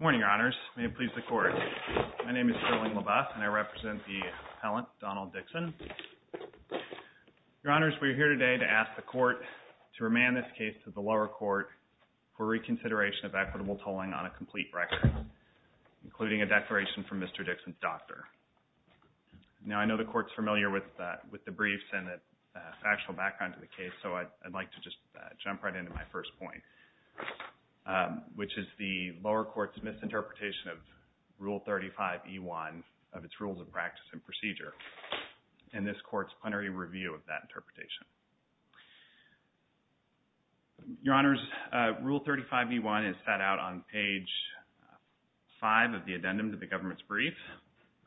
Morning, Your Honors. May it please the Court. My name is Sterling LaBeouf, and I represent the appellant, Donald Dixon. Your Honors, we are here today to ask the Court to remand this case to the lower court for reconsideration of equitable tolling on a complete record, including a declaration from Mr. Dixon's doctor. Now, I know the Court's familiar with the briefs and the factual background to the case, so I'd like to just jump right into my first point, which is the lower court's misinterpretation of Rule 35e1 of its Rules of Practice and Procedure and this Court's plenary review of that interpretation. Your Honors, Rule 35e1 is set out on page 5 of the addendum to the government's brief,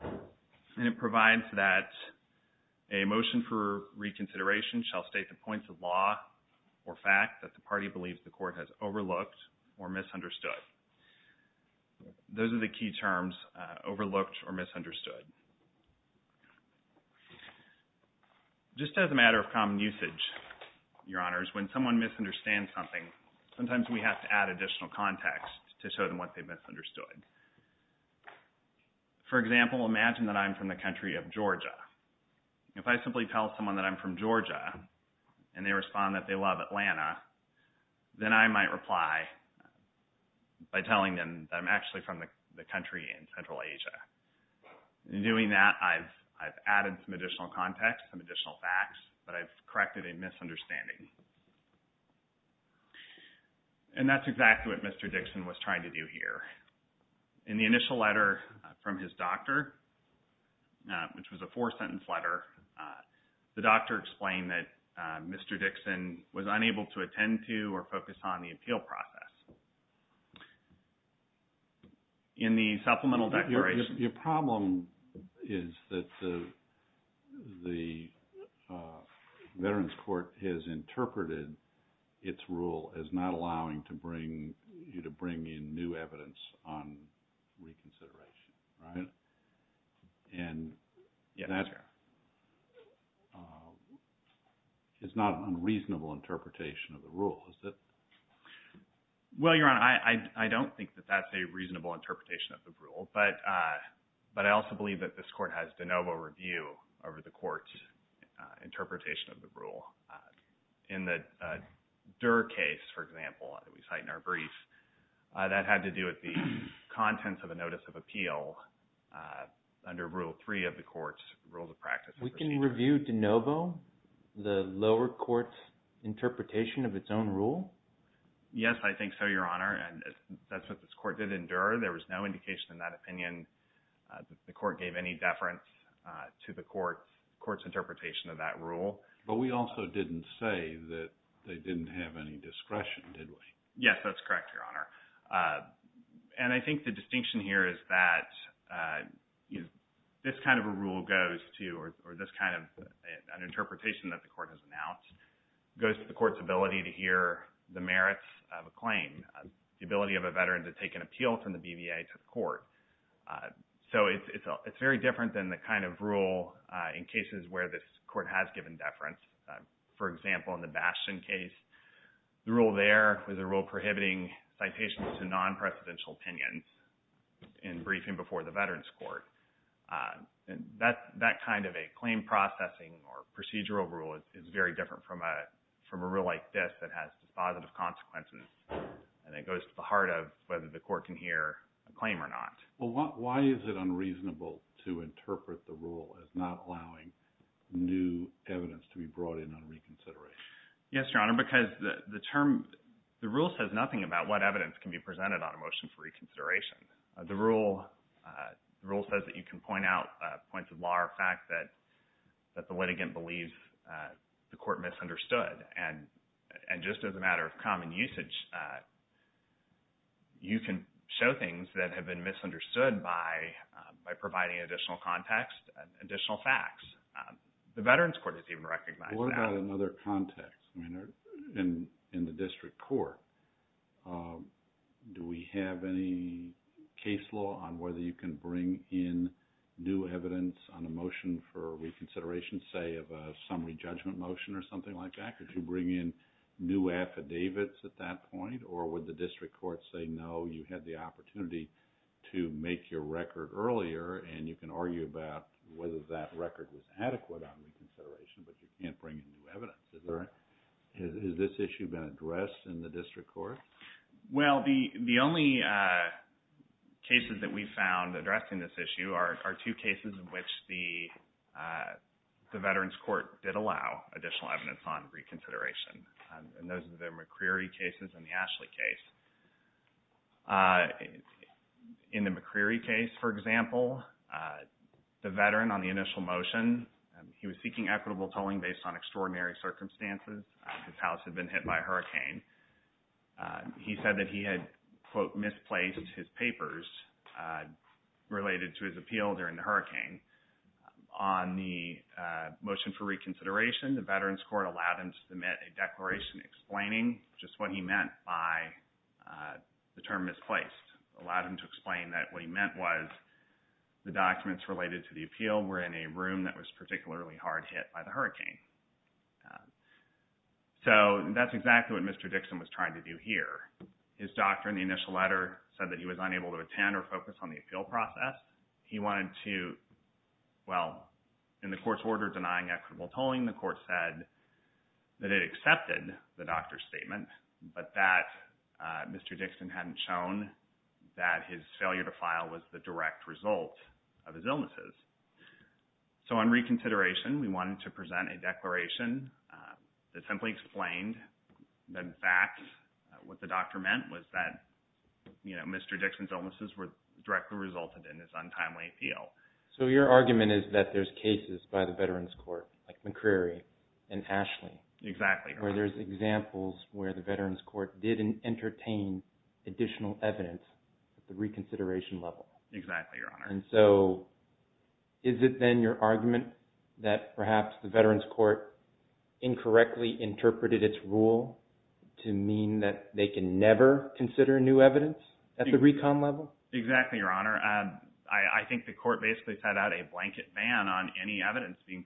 and it provides that a motion for reconsideration shall state the points of law or fact that the party believes the Court has overlooked or misunderstood. Those are the key terms, overlooked or misunderstood. Just as a matter of common usage, Your Honors, when someone misunderstands something, sometimes we have to add additional context to show them what they've misunderstood. For example, imagine that I'm from the country of Georgia. If I simply tell someone that I'm from Georgia, and they respond that they love Atlanta, then I might reply by telling them that I'm actually from the country in Central Asia. In doing that, I've added some additional context, some additional facts that I've corrected a misunderstanding. And that's exactly what Mr. Dixon was trying to do here. In the initial letter from his doctor, which was a four-sentence letter, the doctor explained that Mr. Dixon was unable to attend to or focus on the appeal process. In the supplemental declaration... Your problem is that the Veterans Court has interpreted its rule as not allowing to bring you to bring in new evidence on reconsideration, right? And that's... Well, Your Honor, I don't think that that's a reasonable interpretation of the rule, but I also believe that this Court has de novo review over the Court's interpretation of the rule. In the Durr case, for example, that we cite in our brief, that had to do with the contents of a notice of appeal under Rule 3 of the Court's Rules of Practice. We can review de novo, the rule? Yes, I think so, Your Honor. And that's what this Court did in Durr. There was no indication in that opinion that the Court gave any deference to the Court's interpretation of that rule. But we also didn't say that they didn't have any discretion, did we? Yes, that's correct, Your Honor. And I think the distinction here is that this kind of a rule goes to, or this kind of an interpretation that the Court has announced, goes to the Court's ability to hear the merits of a claim, the ability of a veteran to take an appeal from the BVA to the Court. So it's very different than the kind of rule in cases where this Court has given deference. For example, in the Bastion case, the rule there was a rule prohibiting citations to the BVA. That kind of a claim processing or procedural rule is very different from a rule like this that has positive consequences. And it goes to the heart of whether the Court can hear a claim or not. Well, why is it unreasonable to interpret the rule as not allowing new evidence to be brought in on reconsideration? Yes, Your Honor, because the term, the rule says nothing about what evidence can be presented on a that the litigant believes the Court misunderstood. And just as a matter of common usage, you can show things that have been misunderstood by providing additional context, additional facts. The Veterans Court has even recognized that. What about another context? I mean, in the district court, do we have any case law on whether you can in new evidence on a motion for reconsideration, say, of a summary judgment motion or something like that? Could you bring in new affidavits at that point? Or would the district court say, no, you had the opportunity to make your record earlier, and you can argue about whether that record was adequate on reconsideration, but you can't bring in new evidence. Has this issue been addressed in the district court? Well, the only cases that we found addressing this issue are two cases in which the Veterans Court did allow additional evidence on reconsideration. And those are the McCreary cases and the Ashley case. In the McCreary case, for example, the veteran on the initial motion, he was seeking equitable tolling based on extraordinary circumstances. His house had been hit by a hurricane. He said that he had, quote, misplaced his papers related to his appeal during the hurricane. On the motion for reconsideration, the Veterans Court allowed him to submit a declaration explaining just what he meant by the term misplaced. It allowed him to explain that what he meant was the documents related to the appeal were in a room that was That's exactly what Mr. Dixon was trying to do here. His doctor in the initial letter said that he was unable to attend or focus on the appeal process. He wanted to, well, in the court's order denying equitable tolling, the court said that it accepted the doctor's statement, but that Mr. Dixon hadn't shown that his failure to file was the direct result of his illnesses. So on reconsideration, we wanted to present a declaration that simply explained the facts, what the doctor meant was that, you know, Mr. Dixon's illnesses were directly resulted in his untimely appeal. So your argument is that there's cases by the Veterans Court like McCreary and Ashley. Exactly, Your Honor. Where there's examples where the Veterans Court didn't entertain additional evidence at the reconsideration level. Exactly, Your Honor. So is it then your argument that perhaps the Veterans Court incorrectly interpreted its rule to mean that they can never consider new evidence at the recon level? Exactly, Your Honor. I think the court basically set out a blanket ban on any evidence being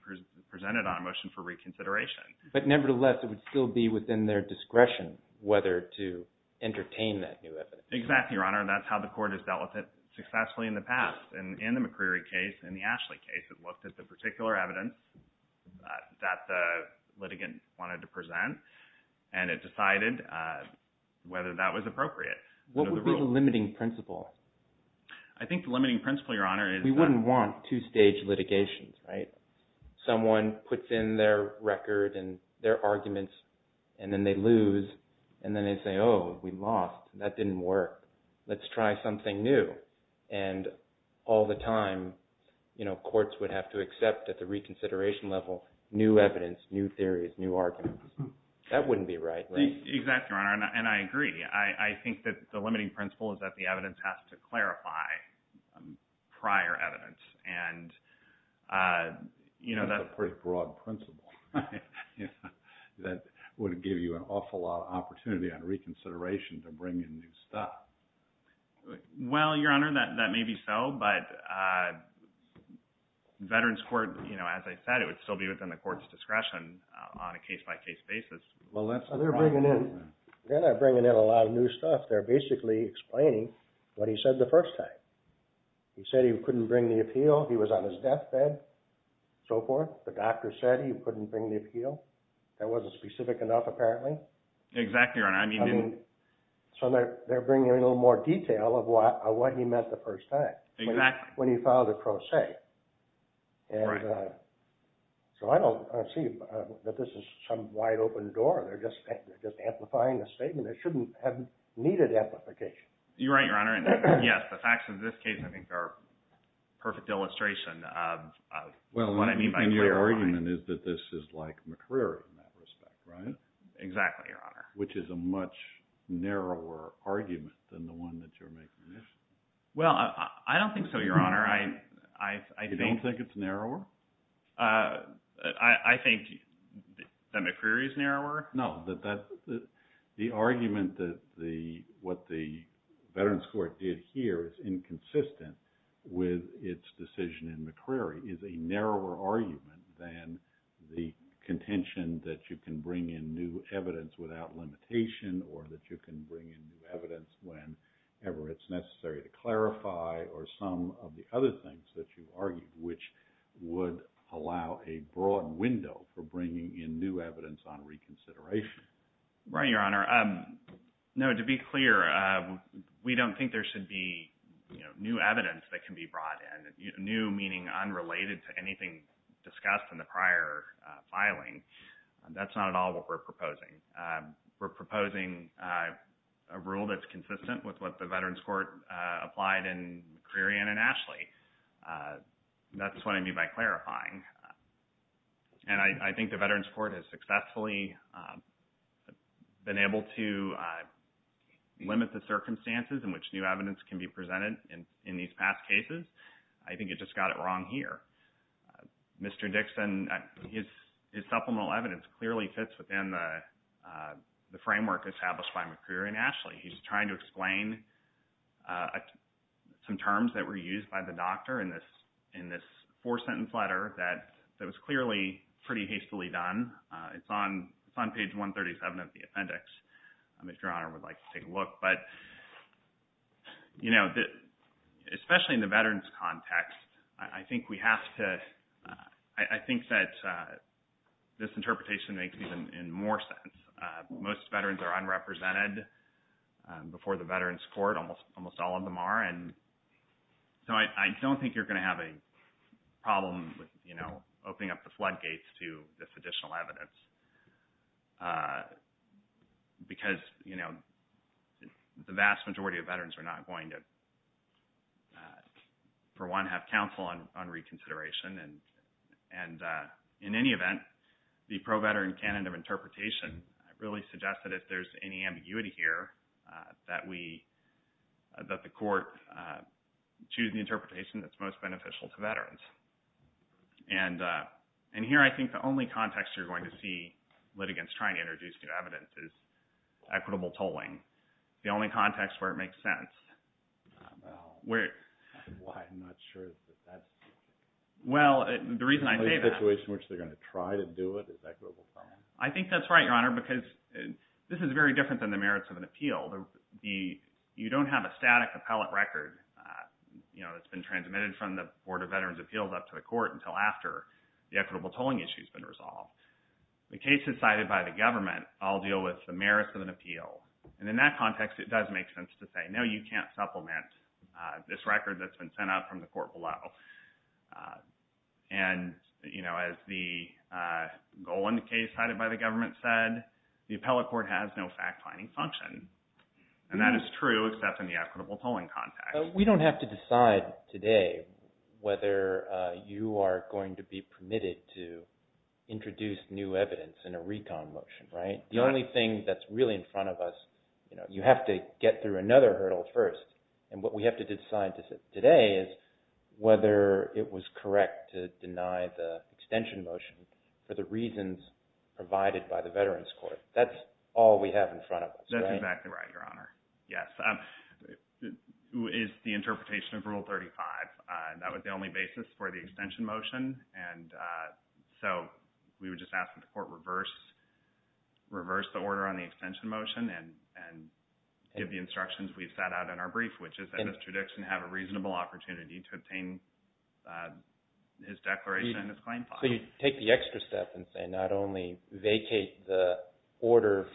presented on a motion for reconsideration. But nevertheless, it would still be within their discretion whether to entertain that new evidence. Exactly, Your Honor. That's how the court has dealt with it successfully in the past. And in the McCreary case, in the Ashley case, it looked at the particular evidence that the litigant wanted to present, and it decided whether that was appropriate. What would be the limiting principle? I think the limiting principle, Your Honor, is... We wouldn't want two-stage litigations, right? Someone puts in their record and their arguments, and then they lose, and then they say, oh, we lost. That didn't work. Let's try something new. And all the time, you know, courts would have to accept at the reconsideration level new evidence, new theories, new arguments. That wouldn't be right, right? Exactly, Your Honor. And I agree. I think that the limiting principle is that the evidence has to clarify prior evidence. And, you know, that... would give you an awful lot of opportunity on reconsideration to bring in new stuff. Well, Your Honor, that may be so, but Veterans Court, you know, as I said, it would still be within the court's discretion on a case-by-case basis. Well, that's... They're bringing in a lot of new stuff. They're basically explaining what he said the first time. He said he couldn't bring the appeal. He was on his deathbed, so forth. The doctor said he couldn't bring the appeal. That wasn't specific enough, apparently. Exactly, Your Honor. I mean... I mean, so they're bringing in a little more detail of what he meant the first time. Exactly. When he filed a pro se. Right. So I don't see that this is some wide-open door. They're just amplifying the statement. It shouldn't have needed amplification. You're right, Your Honor. And yes, the facts of this case, I think, are a perfect illustration. Well, and your argument is that this is like McCreary in that respect, right? Exactly, Your Honor. Which is a much narrower argument than the one that you're making. Well, I don't think so, Your Honor. I think... You don't think it's narrower? I think that McCreary is narrower. No, the argument that what the Veterans Court did here is inconsistent with its decision in McCreary is a narrower argument than the contention that you can bring in new evidence without limitation or that you can bring in new evidence whenever it's necessary to clarify or some of the other things that you argued, which would allow a broad window for bringing in new evidence on reconsideration. Right, Your Honor. No, to be clear, we don't think there should be, you know, new evidence that can be brought in. New meaning unrelated to anything discussed in the prior filing. That's not at all what we're proposing. We're proposing a rule that's consistent with what the Veterans Court applied in McCreary and in Ashley. That's what I mean by clarifying. And I think the Veterans Court has successfully been able to limit the circumstances in which new evidence can be presented in these past cases. I think it just got it wrong here. Mr. Dixon, his supplemental evidence clearly fits within the framework established by McCreary and Ashley. He's trying to explain some terms that were used by the doctor in this four-sentence letter that was clearly pretty hastily done. It's on page 137 of the appendix, if Your Honor would like to take a look. But, you know, especially in the Veterans context, I think that this interpretation makes even more sense. Most veterans are unrepresented before the Veterans Court. Almost all of them are. And so I don't think you're going to have a problem with, you know, opening up the floodgates to this additional evidence. Because, you know, the vast majority of veterans are not going to, for one, have counsel on reconsideration. And in any event, the pro-veteran canon of interpretation really suggests that if there's any ambiguity here, that the court choose the interpretation that's most beneficial to veterans. And here I think the only context you're going to see litigants trying to introduce new evidence is equitable tolling. The only context where it makes sense. Well, I'm not sure that that's the only situation in which they're going to try to do it is equitable tolling. I think that's right, Your Honor, because this is very different than the merits of an appeal. You don't have a static appellate record, you know, that's been transmitted from the court until after the equitable tolling issue has been resolved. The cases cited by the government all deal with the merits of an appeal. And in that context, it does make sense to say, no, you can't supplement this record that's been sent out from the court below. And, you know, as the Golan case cited by the government said, the appellate court has no fact-finding function. And that is true, except in the equitable tolling context. We don't have to decide today whether you are going to be permitted to introduce new evidence in a recon motion, right? The only thing that's really in front of us, you know, you have to get through another hurdle first. And what we have to decide today is whether it was correct to deny the extension motion for the reasons provided by the Veterans Court. That's all we have in front of us. That's exactly right, Your Honor. Yes. Is the interpretation of Rule 35. That was the only basis for the extension motion. And so we would just ask that the court reverse the order on the extension motion and give the instructions we've sat out in our brief, which is, in this tradition, have a reasonable opportunity to obtain his declaration and his claim file. So you take the extra step and say, not only vacate the order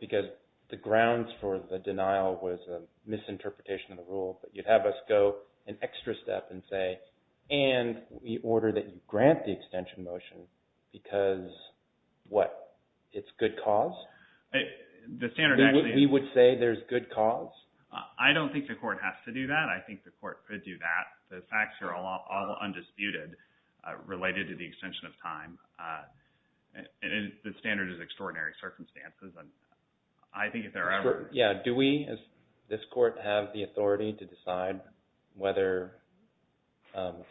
because the grounds for the denial was a misinterpretation of the rule, but you'd have us go an extra step and say, and we order that you grant the extension motion because, what, it's good cause? We would say there's good cause? I don't think the court has to do that. I think the court could do that. The facts are all undisputed related to the extension of time. And the standard is extraordinary circumstances. And I think if there are ever... Yeah. Do we, as this court, have the authority to decide whether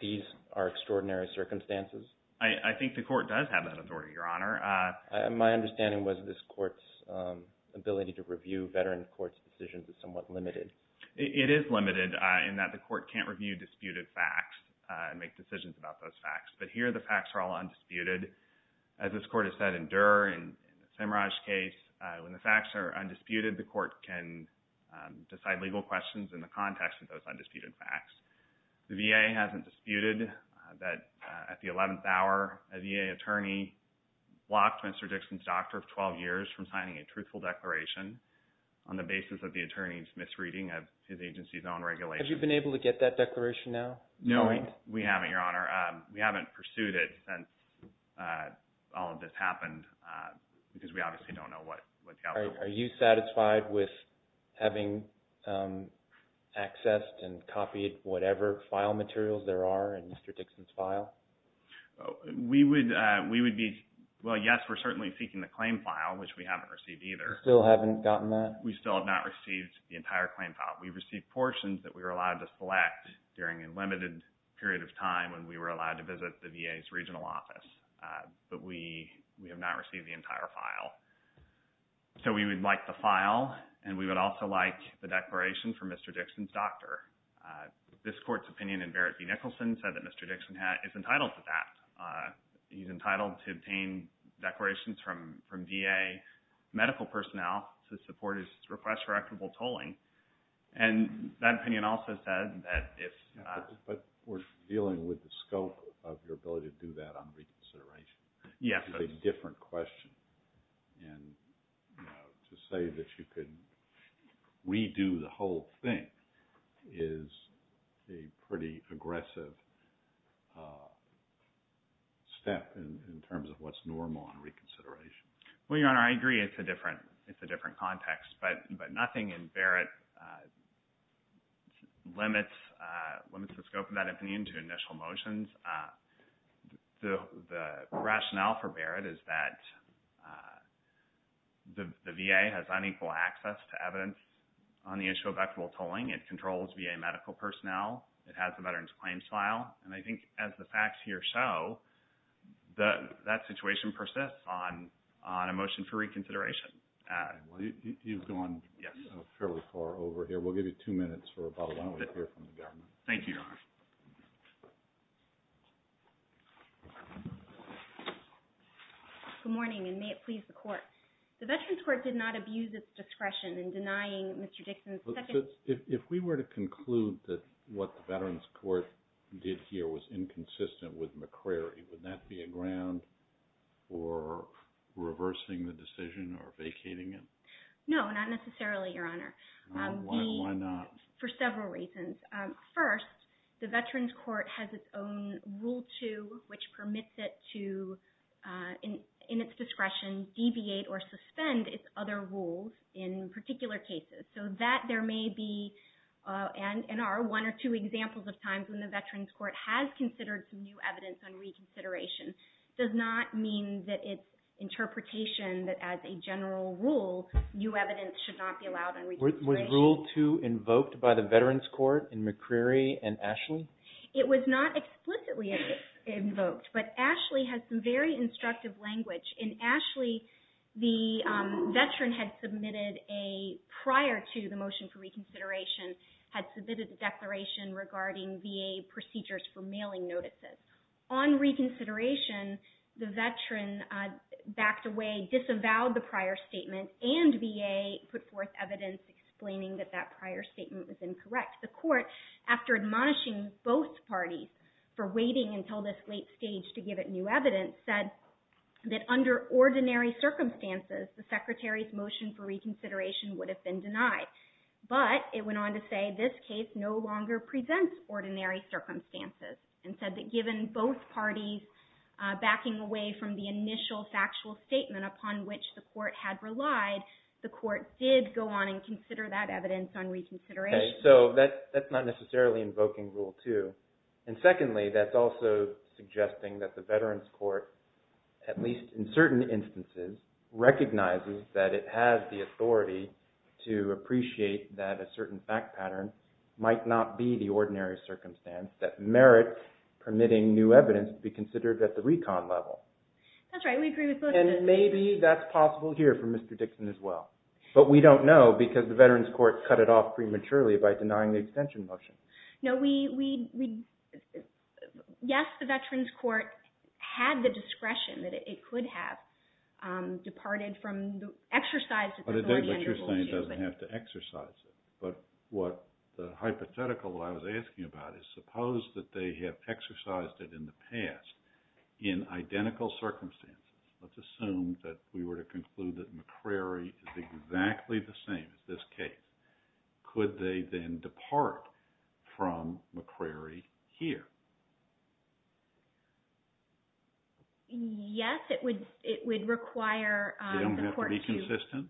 these are extraordinary circumstances? I think the court does have that authority, Your Honor. My understanding was this court's ability to review Veterans Court's decisions is somewhat limited. It is limited in that the court can't review disputed facts and make decisions about those facts. But here, the facts are all undisputed. As this court has said in Durer, in the Simraj case, when the facts are undisputed, the court can decide legal questions in the context of those undisputed facts. The VA hasn't disputed that at the 11th hour, a VA attorney blocked Mr. Dixon's doctor of truthful declaration on the basis of the attorney's misreading of his agency's own regulation. Have you been able to get that declaration now? No, we haven't, Your Honor. We haven't pursued it since all of this happened because we obviously don't know what the outcome was. Are you satisfied with having accessed and copied whatever file materials there are in Mr. Dixon's file? We would be... You still haven't gotten that? We still have not received the entire claim file. We've received portions that we were allowed to select during a limited period of time when we were allowed to visit the VA's regional office. But we have not received the entire file. So we would like the file and we would also like the declaration from Mr. Dixon's doctor. This court's opinion in Barrett v. Nicholson said that Mr. Dixon is entitled to that. He's entitled to obtain declarations from VA medical personnel to support his request for equitable tolling. And that opinion also said that if... But we're dealing with the scope of your ability to do that on reconsideration. Yes. It's a different question. And to say that you could redo the whole thing is a pretty aggressive step in terms of what's normal on reconsideration. Well, Your Honor, I agree it's a different context. But nothing in Barrett limits the scope of that opinion to initial motions. The rationale for Barrett is that the VA has unequal access to evidence on the issue of equitable tolling. It controls VA medical personnel. It has the veteran's claims file. And I think as the facts here show, that situation persists on a motion for reconsideration. You've gone fairly far over here. We'll give you two minutes for a bottle. Why don't we hear from the government? Thank you, Your Honor. Good morning, and may it please the Court. The Veterans Court did not abuse its discretion in denying Mr. Dixon's second... If we were to conclude that what the Veterans Court did here was inconsistent with McCrary, would that be a ground for reversing the decision or vacating it? No, not necessarily, Your Honor. Why not? For several reasons. First, the Veterans Court has its own Rule 2, which permits it to, in its discretion, deviate or suspend its other rules in particular cases. So that there may be and are one or two examples of times when the Veterans Court has considered some new evidence on reconsideration. It does not mean that its interpretation that as a general rule, new evidence should not be allowed on reconsideration. Was Rule 2 invoked by the Veterans Court in McCrary and Ashley? It was not explicitly invoked, but Ashley has some very instructive language. In Ashley, the veteran had submitted a prior to the motion for reconsideration, had submitted a declaration regarding VA procedures for mailing notices. On reconsideration, the veteran backed away, disavowed the prior statement, and VA put forth evidence explaining that that prior statement was incorrect. The court, after admonishing both parties for waiting until this late stage to give it new evidence, said that under ordinary circumstances, the Secretary's motion for reconsideration would have been denied. But it went on to say this case no longer presents ordinary circumstances. And said that given both parties backing away from the initial factual statement upon which the court had relied, the court did go on and consider that evidence on reconsideration. So that's not necessarily invoking Rule 2. And secondly, that's also suggesting that the Veterans Court, at least in certain instances, recognizes that it has the authority to appreciate that a certain fact pattern might not be the ordinary circumstance that merits permitting new evidence to be considered at the recon level. That's right. We agree with both of those. And maybe that's possible here for Mr. Dixon as well. But we don't know because the Veterans Court cut it off prematurely by denying the extension motion. No, we – yes, the Veterans Court had the discretion that it could have departed from the exercise of the 410 Rule 2. But then what you're saying is it doesn't have to exercise it. But what the hypothetical I was asking about is suppose that they have exercised it in the past in identical circumstances. Let's assume that we were to conclude that McCrary is exactly the same as this case. Could they then depart from McCrary here? Yes, it would require the court to – They don't have to be consistent?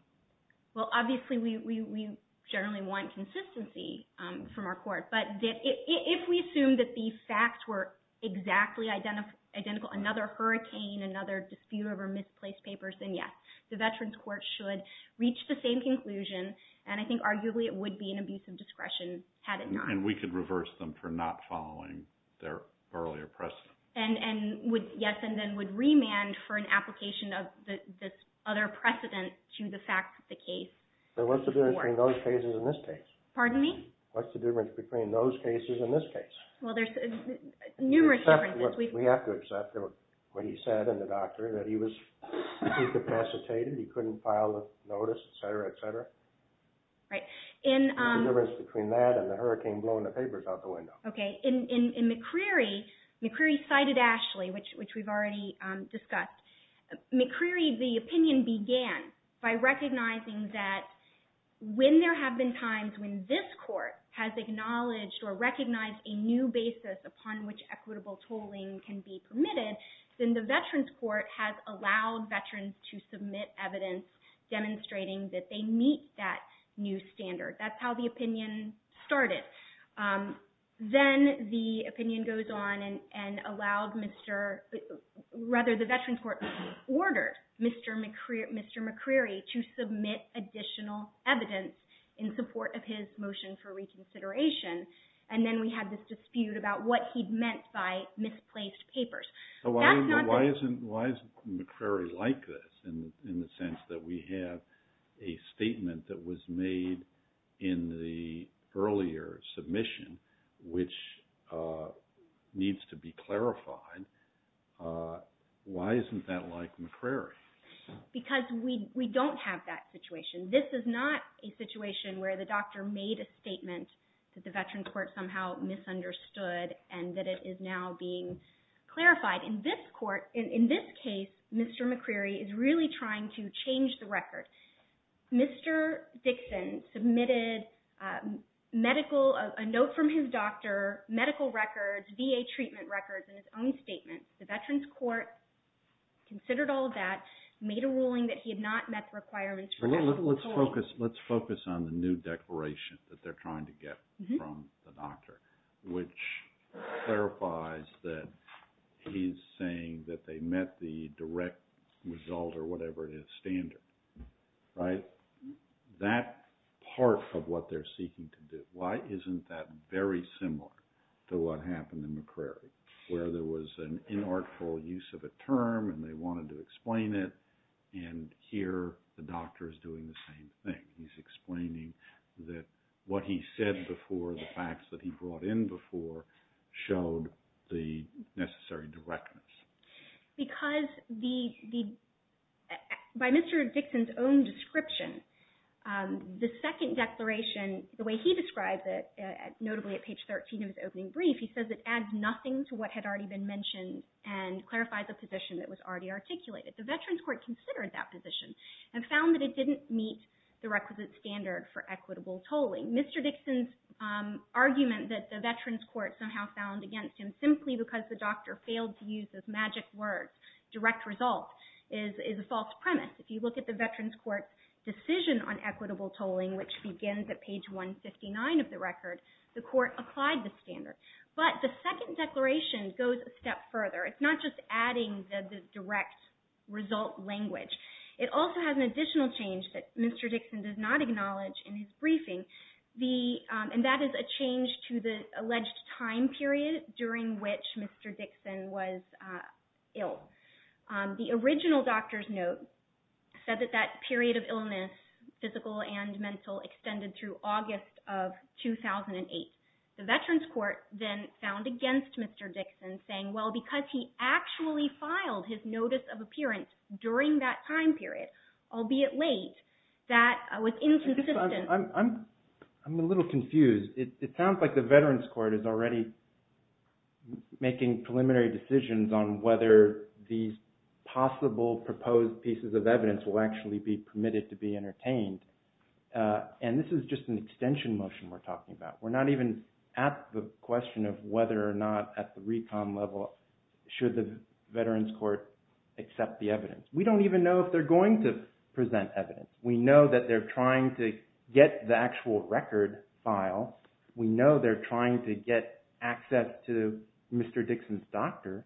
Well, obviously, we generally want consistency from our court. But if we assume that the facts were exactly identical, another hurricane, another dispute over misplaced papers, then yes, the Veterans Court should reach the same conclusion. And I think arguably it would be an abuse of discretion had it not. And we could reverse them for not following their earlier precedent. And would – yes, and then would remand for an application of this other precedent to the fact that the case – So what's the difference between those cases and this case? Pardon me? What's the difference between those cases and this case? Well, there's numerous differences. We have to accept what he said in the doctor, that he was incapacitated. He couldn't file a notice, et cetera, et cetera. Right. What's the difference between that and the hurricane blowing the papers out the window? Okay. In McCrary, McCrary cited Ashley, which we've already discussed. McCrary, the opinion began by recognizing that when there have been times when this court has acknowledged or recognized a new basis upon which equitable tolling can be permitted, then the Veterans Court has allowed veterans to submit evidence demonstrating that they meet that new standard. That's how the opinion started. Then the opinion goes on and allowed Mr. – rather, the Veterans Court ordered Mr. McCrary to submit additional evidence in support of his motion for reconsideration. And then we had this dispute about what he'd meant by misplaced papers. So why isn't McCrary like this in the sense that we have a statement that was made in the earlier submission, which needs to be clarified? Why isn't that like McCrary? Because we don't have that situation. This is not a situation where the doctor made a statement that the Veterans Court somehow misunderstood and that it is now being clarified. In this case, Mr. McCrary is really trying to change the record. Mr. Dixon submitted medical – a note from his doctor, medical records, VA treatment records, and his own statement. The Veterans Court considered all of that, made a ruling that he had not met the requirements for equitable tolling. Let's focus on the new declaration that they're trying to get from the doctor, which clarifies that he's saying that they met the direct result or whatever it is standard. Right? That part of what they're seeking to do, why isn't that very similar to what happened in McCrary, where there was an inartful use of a term and they wanted to explain it, and here the doctor is doing the same thing. He's explaining that what he said before, the facts that he brought in before, showed the necessary directness. Because the – by Mr. Dixon's own description, the second declaration, the way he describes it, notably at page 13 of his opening brief, he says it adds nothing to what had already been mentioned and clarifies a position that was already articulated. The Veterans Court considered that position and found that it didn't meet the requisite standard for equitable tolling. Mr. Dixon's argument that the Veterans Court somehow found against him simply because the magic words, direct result, is a false premise. If you look at the Veterans Court's decision on equitable tolling, which begins at page 159 of the record, the court applied the standard. But the second declaration goes a step further. It's not just adding the direct result language. It also has an additional change that Mr. Dixon does not acknowledge in his briefing, the – and that is a change to the alleged time period during which Mr. Dixon was ill. The original doctor's note said that that period of illness, physical and mental, extended through August of 2008. The Veterans Court then found against Mr. Dixon, saying, well, because he actually filed his notice of appearance during that time period, albeit late, that was inconsistent. I'm a little confused. It sounds like the Veterans Court is already making preliminary decisions on whether these possible proposed pieces of evidence will actually be permitted to be entertained. And this is just an extension motion we're talking about. We're not even at the question of whether or not at the recon level should the Veterans Court accept the evidence. We don't even know if they're going to present evidence. We know that they're trying to get the actual record file. We know they're trying to get access to Mr. Dixon's doctor.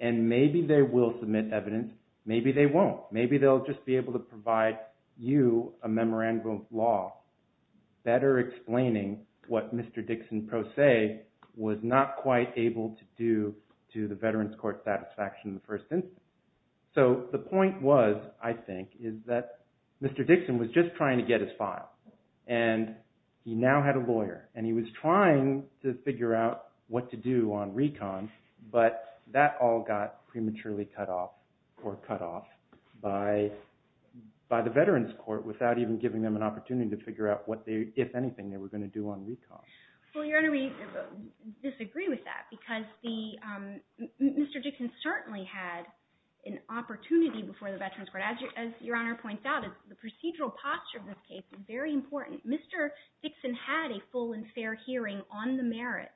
And maybe they will submit evidence. Maybe they won't. Maybe they'll just be able to provide you a memorandum of law better explaining what Mr. Dixon pro se was not quite able to do to the Veterans Court satisfaction in the first instance. So the point was, I think, is that Mr. Dixon was just trying to get his file. And he now had a lawyer. And he was trying to figure out what to do on recon. But that all got prematurely cut off or cut off by the Veterans Court without even giving them an opportunity to figure out what they, if anything, they were going to do on recon. Well, Your Honor, we disagree with that. Because Mr. Dixon certainly had an opportunity before the Veterans Court. As Your Honor points out, the procedural posture of this case is very important. Mr. Dixon had a full and fair hearing on the merits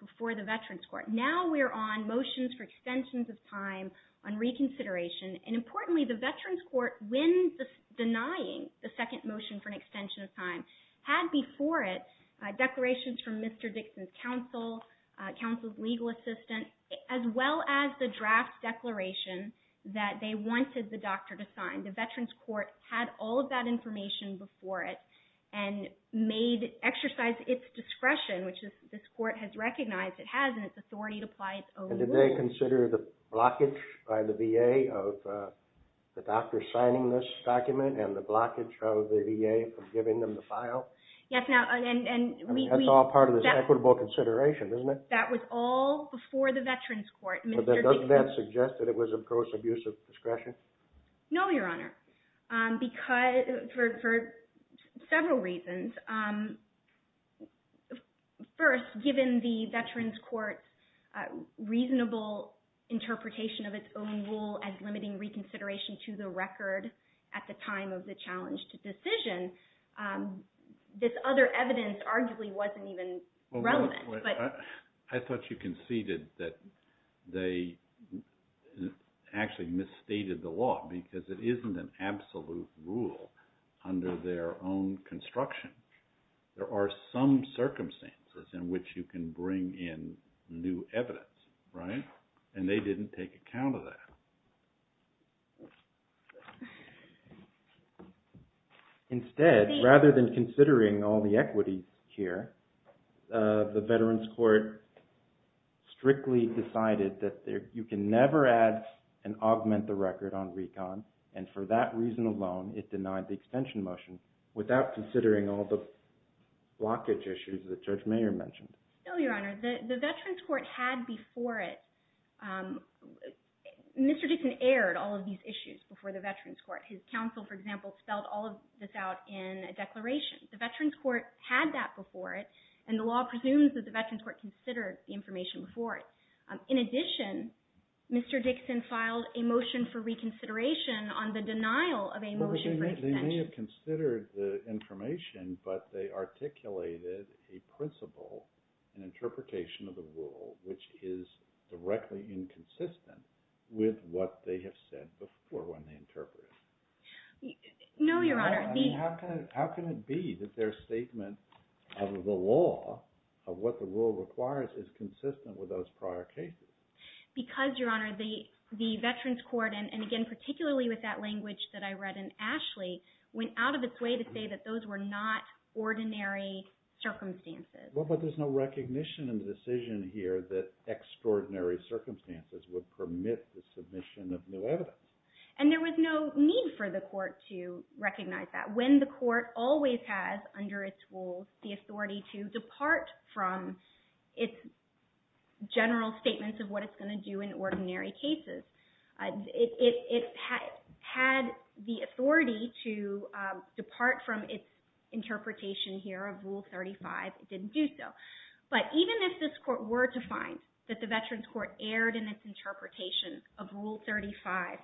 before the Veterans Court. Now we're on motions for extensions of time on reconsideration. And importantly, the Veterans Court, when denying the second motion for an extension of time, had before it declarations from Mr. Dixon's counsel, counsel's legal assistant, as well as the draft declaration that they wanted the doctor to sign. The Veterans Court had all of that information before it and made, exercised its discretion, which this court has recognized it has in its authority to apply its own rules. And did they consider the blockage by the VA of the doctor signing this document and the blockage of the VA of giving them the file? Yes, now, and we... That's all part of this equitable consideration, isn't it? That was all before the Veterans Court. Doesn't that suggest that it was of gross abuse of discretion? No, Your Honor. Because, for several reasons. First, given the Veterans Court's reasonable interpretation of its own rule as limiting reconsideration to the record at the time of the challenged decision, this other evidence arguably wasn't even relevant. I thought you conceded that they actually misstated the law because it isn't an absolute rule under their own construction. There are some circumstances in which you can bring in new evidence, right? And they didn't take account of that. Instead, rather than considering all the equities here, the Veterans Court strictly decided that you can never add and augment the record on recon. And for that reason alone, it denied the extension motion without considering all the blockage issues that Judge Mayer mentioned. No, Your Honor. The Veterans Court had before it. Mr. Dixon aired all of these issues before the Veterans Court. His counsel, for example, spelled all of this out in a declaration. The Veterans Court had that before it, and the law presumes that the Veterans Court considered the information before it. In addition, Mr. Dixon filed a motion for reconsideration on the denial of a motion for extension. They may have considered the information, but they articulated a principle, an interpretation of the rule, which is directly inconsistent with what they have said before when they interpreted it. No, Your Honor. How can it be that their statement of the law, of what the rule requires, is consistent with those prior cases? Because, Your Honor, the Veterans Court, and again, particularly with that language that I read in Ashley, went out of its way to say that those were not ordinary circumstances. Well, but there's no recognition in the decision here that extraordinary circumstances would permit the submission of new evidence. And there was no need for the court to recognize that. When the court always has, under its rules, the authority to depart from its general statements of what it's going to do in ordinary cases, it had the authority to depart from its interpretation here of Rule 35. It didn't do so. But even if this court were to find that the Veterans Court erred in its interpretation of Rule 35,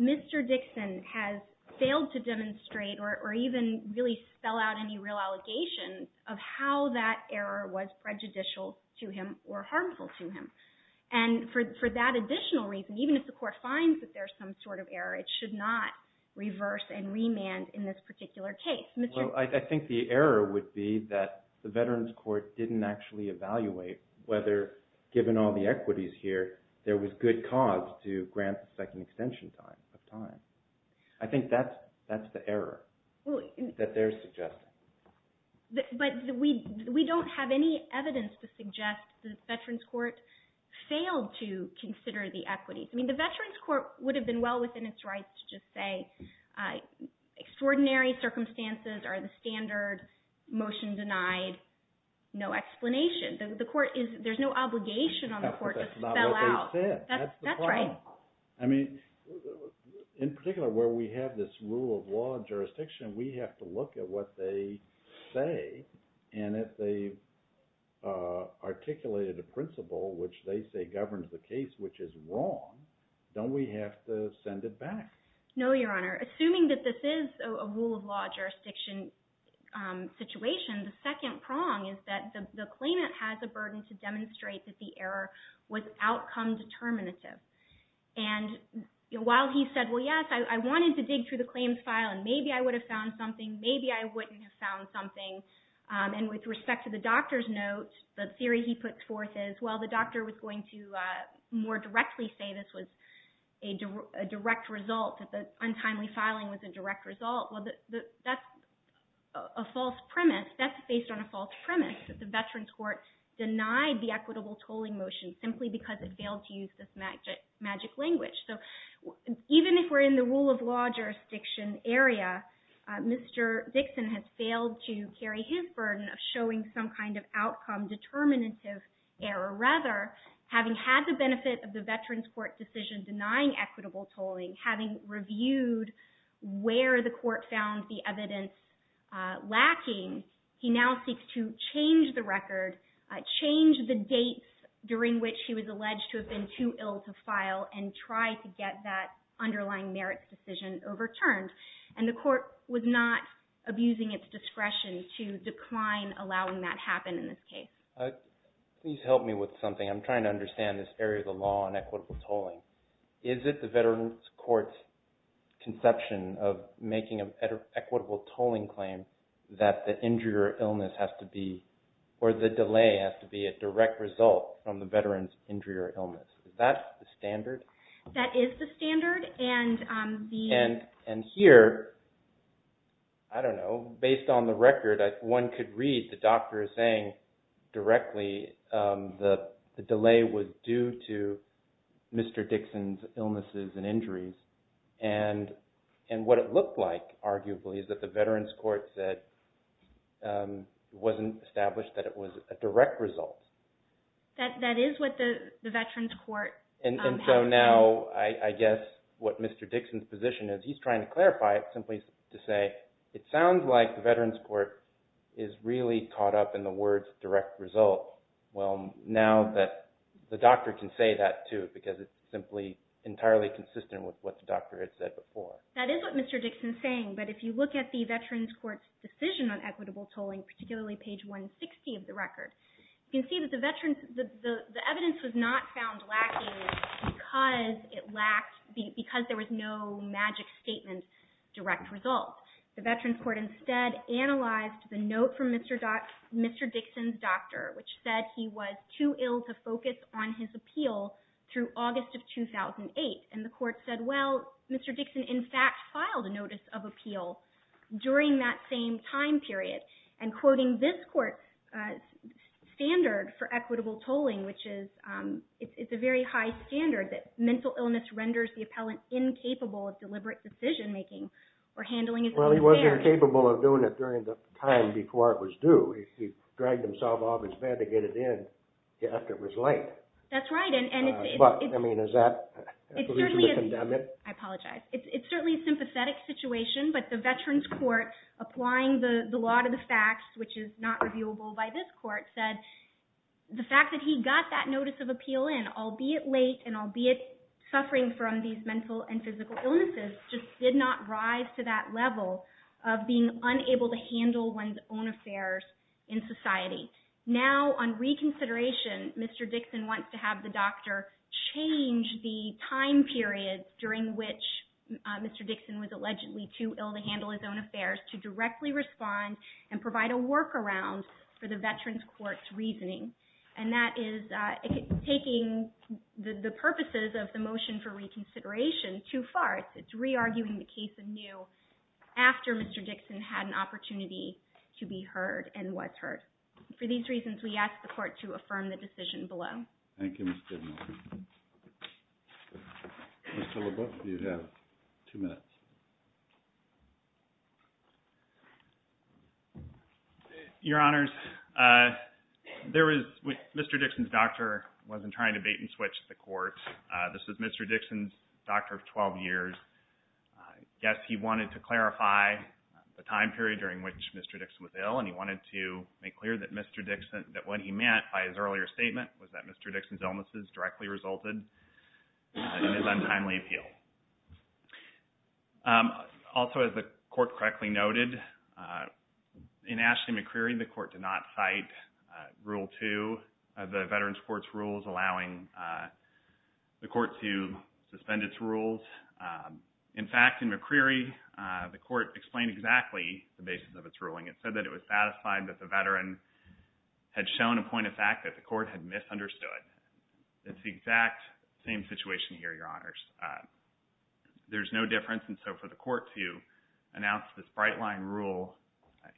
Mr. Dixon has failed to demonstrate or even really spell out any real allegations of how that error was prejudicial to him or harmful to him. And for that additional reason, even if the court finds that there's some sort of error, it should not reverse and remand in this particular case. Well, I think the error would be that the Veterans Court didn't actually evaluate whether, given all the equities here, there was good cause to grant the second extension of time. I think that's the error that they're suggesting. But we don't have any evidence to suggest the Veterans Court failed to consider the equities. I mean, the Veterans Court would have been well within its rights to just say, extraordinary circumstances are the standard, motion denied, no explanation. The court is, there's no obligation on the court to spell out. That's not what they said. That's the problem. I mean, in particular, where we have this rule of law and jurisdiction, we have to look at what they say. And if they articulated a principle, which they say governs the case, which is wrong, don't we have to send it back? No, Your Honor. Assuming that this is a rule of law jurisdiction situation, the second prong is that the claimant has a burden to demonstrate that the error was outcome determinative. And while he said, well, yes, I wanted to dig through the claims file, and maybe I would have found something, maybe I wouldn't have found something. And with respect to the doctor's note, the theory he puts forth is, well, the doctor was going to more directly say this was a direct result, that the untimely filing was a direct result. Well, that's a false premise. That's based on a false premise that the Veterans Court denied the equitable tolling motion simply because it failed to use this magic language. So even if we're in the rule of law jurisdiction area, Mr. Dixon has failed to carry his burden of showing some kind of outcome determinative error. Rather, having had the benefit of the Veterans Court decision denying equitable tolling, having reviewed where the court found the evidence lacking, he now seeks to change the record, change the dates during which he was alleged to have been too ill to file, and try to get that underlying merits decision overturned. And the court was not abusing its discretion to decline allowing that happen in this case. Please help me with something. I'm trying to understand this area of the law on equitable tolling. Is it the Veterans Court's conception of making an equitable tolling claim that the injury or illness has to be, or the delay has to be a direct result from the veteran's injury or illness? Is that the standard? That is the standard. And here, I don't know. Based on the record, one could read the doctor saying directly the delay was due to Mr. Dixon's illnesses and injuries. And what it looked like, arguably, is that the Veterans Court said it wasn't established that it was a direct result. That is what the Veterans Court has said. And so now, I guess what Mr. Dixon's position is, he's trying to clarify it simply to say, it sounds like the Veterans Court is really caught up in the words direct result. Well, now that the doctor can say that too, because it's simply entirely consistent with what the doctor had said before. That is what Mr. Dixon's saying. But if you look at the Veterans Court's decision on equitable tolling, particularly page 160 of the record, you can see that the evidence was not found lacking because there was no magic statement direct result. The Veterans Court instead analyzed the note from Mr. Dixon's doctor, which said he was too ill to focus on his appeal through August of 2008. And the court said, well, Mr. Dixon, in fact, filed a notice of appeal during that same time period. And quoting this court's standard for equitable tolling, which is, it's a very high standard that mental illness renders the appellant incapable of deliberate decision making or handling his own affairs. Well, he wasn't capable of doing it during the time before it was due. He dragged himself off his bed to get it in after it was late. That's right. But, I mean, is that a reason to condemn it? I apologize. It's certainly a sympathetic situation. But the Veterans Court, applying the law to the facts, which is not reviewable by this court, said the fact that he got that notice of appeal in, albeit late and albeit suffering from these mental and physical illnesses, just did not rise to that level of being unable to handle one's own affairs in society. Now, on reconsideration, Mr. Dixon wants to have the doctor change the time period during which Mr. Dixon was allegedly too ill to handle his own affairs to directly respond and provide a workaround for the Veterans Court's reasoning. And that is taking the purposes of the motion for reconsideration too far. It's re-arguing the case anew after Mr. Dixon had an opportunity to be heard and was heard. For these reasons, we ask the court to affirm the decision below. Thank you, Ms. Goodman. Mr. LeBeouf, you have two minutes. Your Honors, Mr. Dixon's doctor wasn't trying to bait and switch the court. This was Mr. Dixon's doctor of 12 years. Yes, he wanted to clarify the time period during which Mr. Dixon was ill. And he wanted to make clear that when he meant by his earlier statement was that Mr. Dixon's directly resulted in his untimely appeal. Also, as the court correctly noted, in Ashley McCreary, the court did not cite Rule 2 of the Veterans Court's rules allowing the court to suspend its rules. In fact, in McCreary, the court explained exactly the basis of its ruling. It said that it was satisfied that the veteran had shown a point of fact that the court had misunderstood. It's the exact same situation here, Your Honors. There's no difference. And so for the court to announce this bright line rule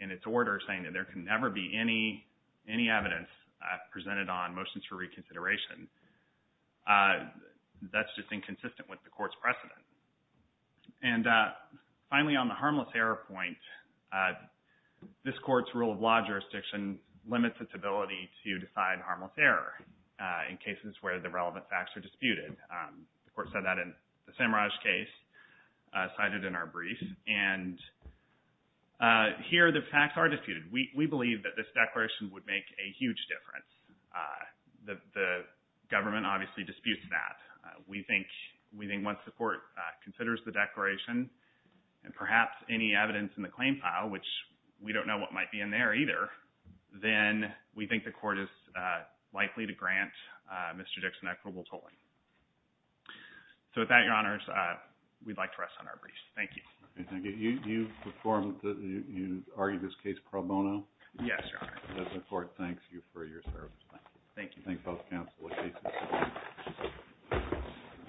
in its order saying that there can never be any evidence presented on motions for reconsideration, that's just inconsistent with the court's precedent. And finally, on the harmless error point, this court's rule of law jurisdiction limits its ability to decide harmless error. In cases where the relevant facts are disputed, the court said that in the Samaraj case cited in our brief. And here the facts are disputed. We believe that this declaration would make a huge difference. The government obviously disputes that. We think once the court considers the declaration and perhaps any evidence in the claim file, which we don't know what might be in there either, then we think the court is likely to grant Mr. Dixon equitable tolling. So with that, Your Honors, we'd like to rest on our briefs. Thank you. Okay. Thank you. You performed, you argued this case pro bono? Yes, Your Honor. Does the court thank you for your service? Thank you. Thank both counsel.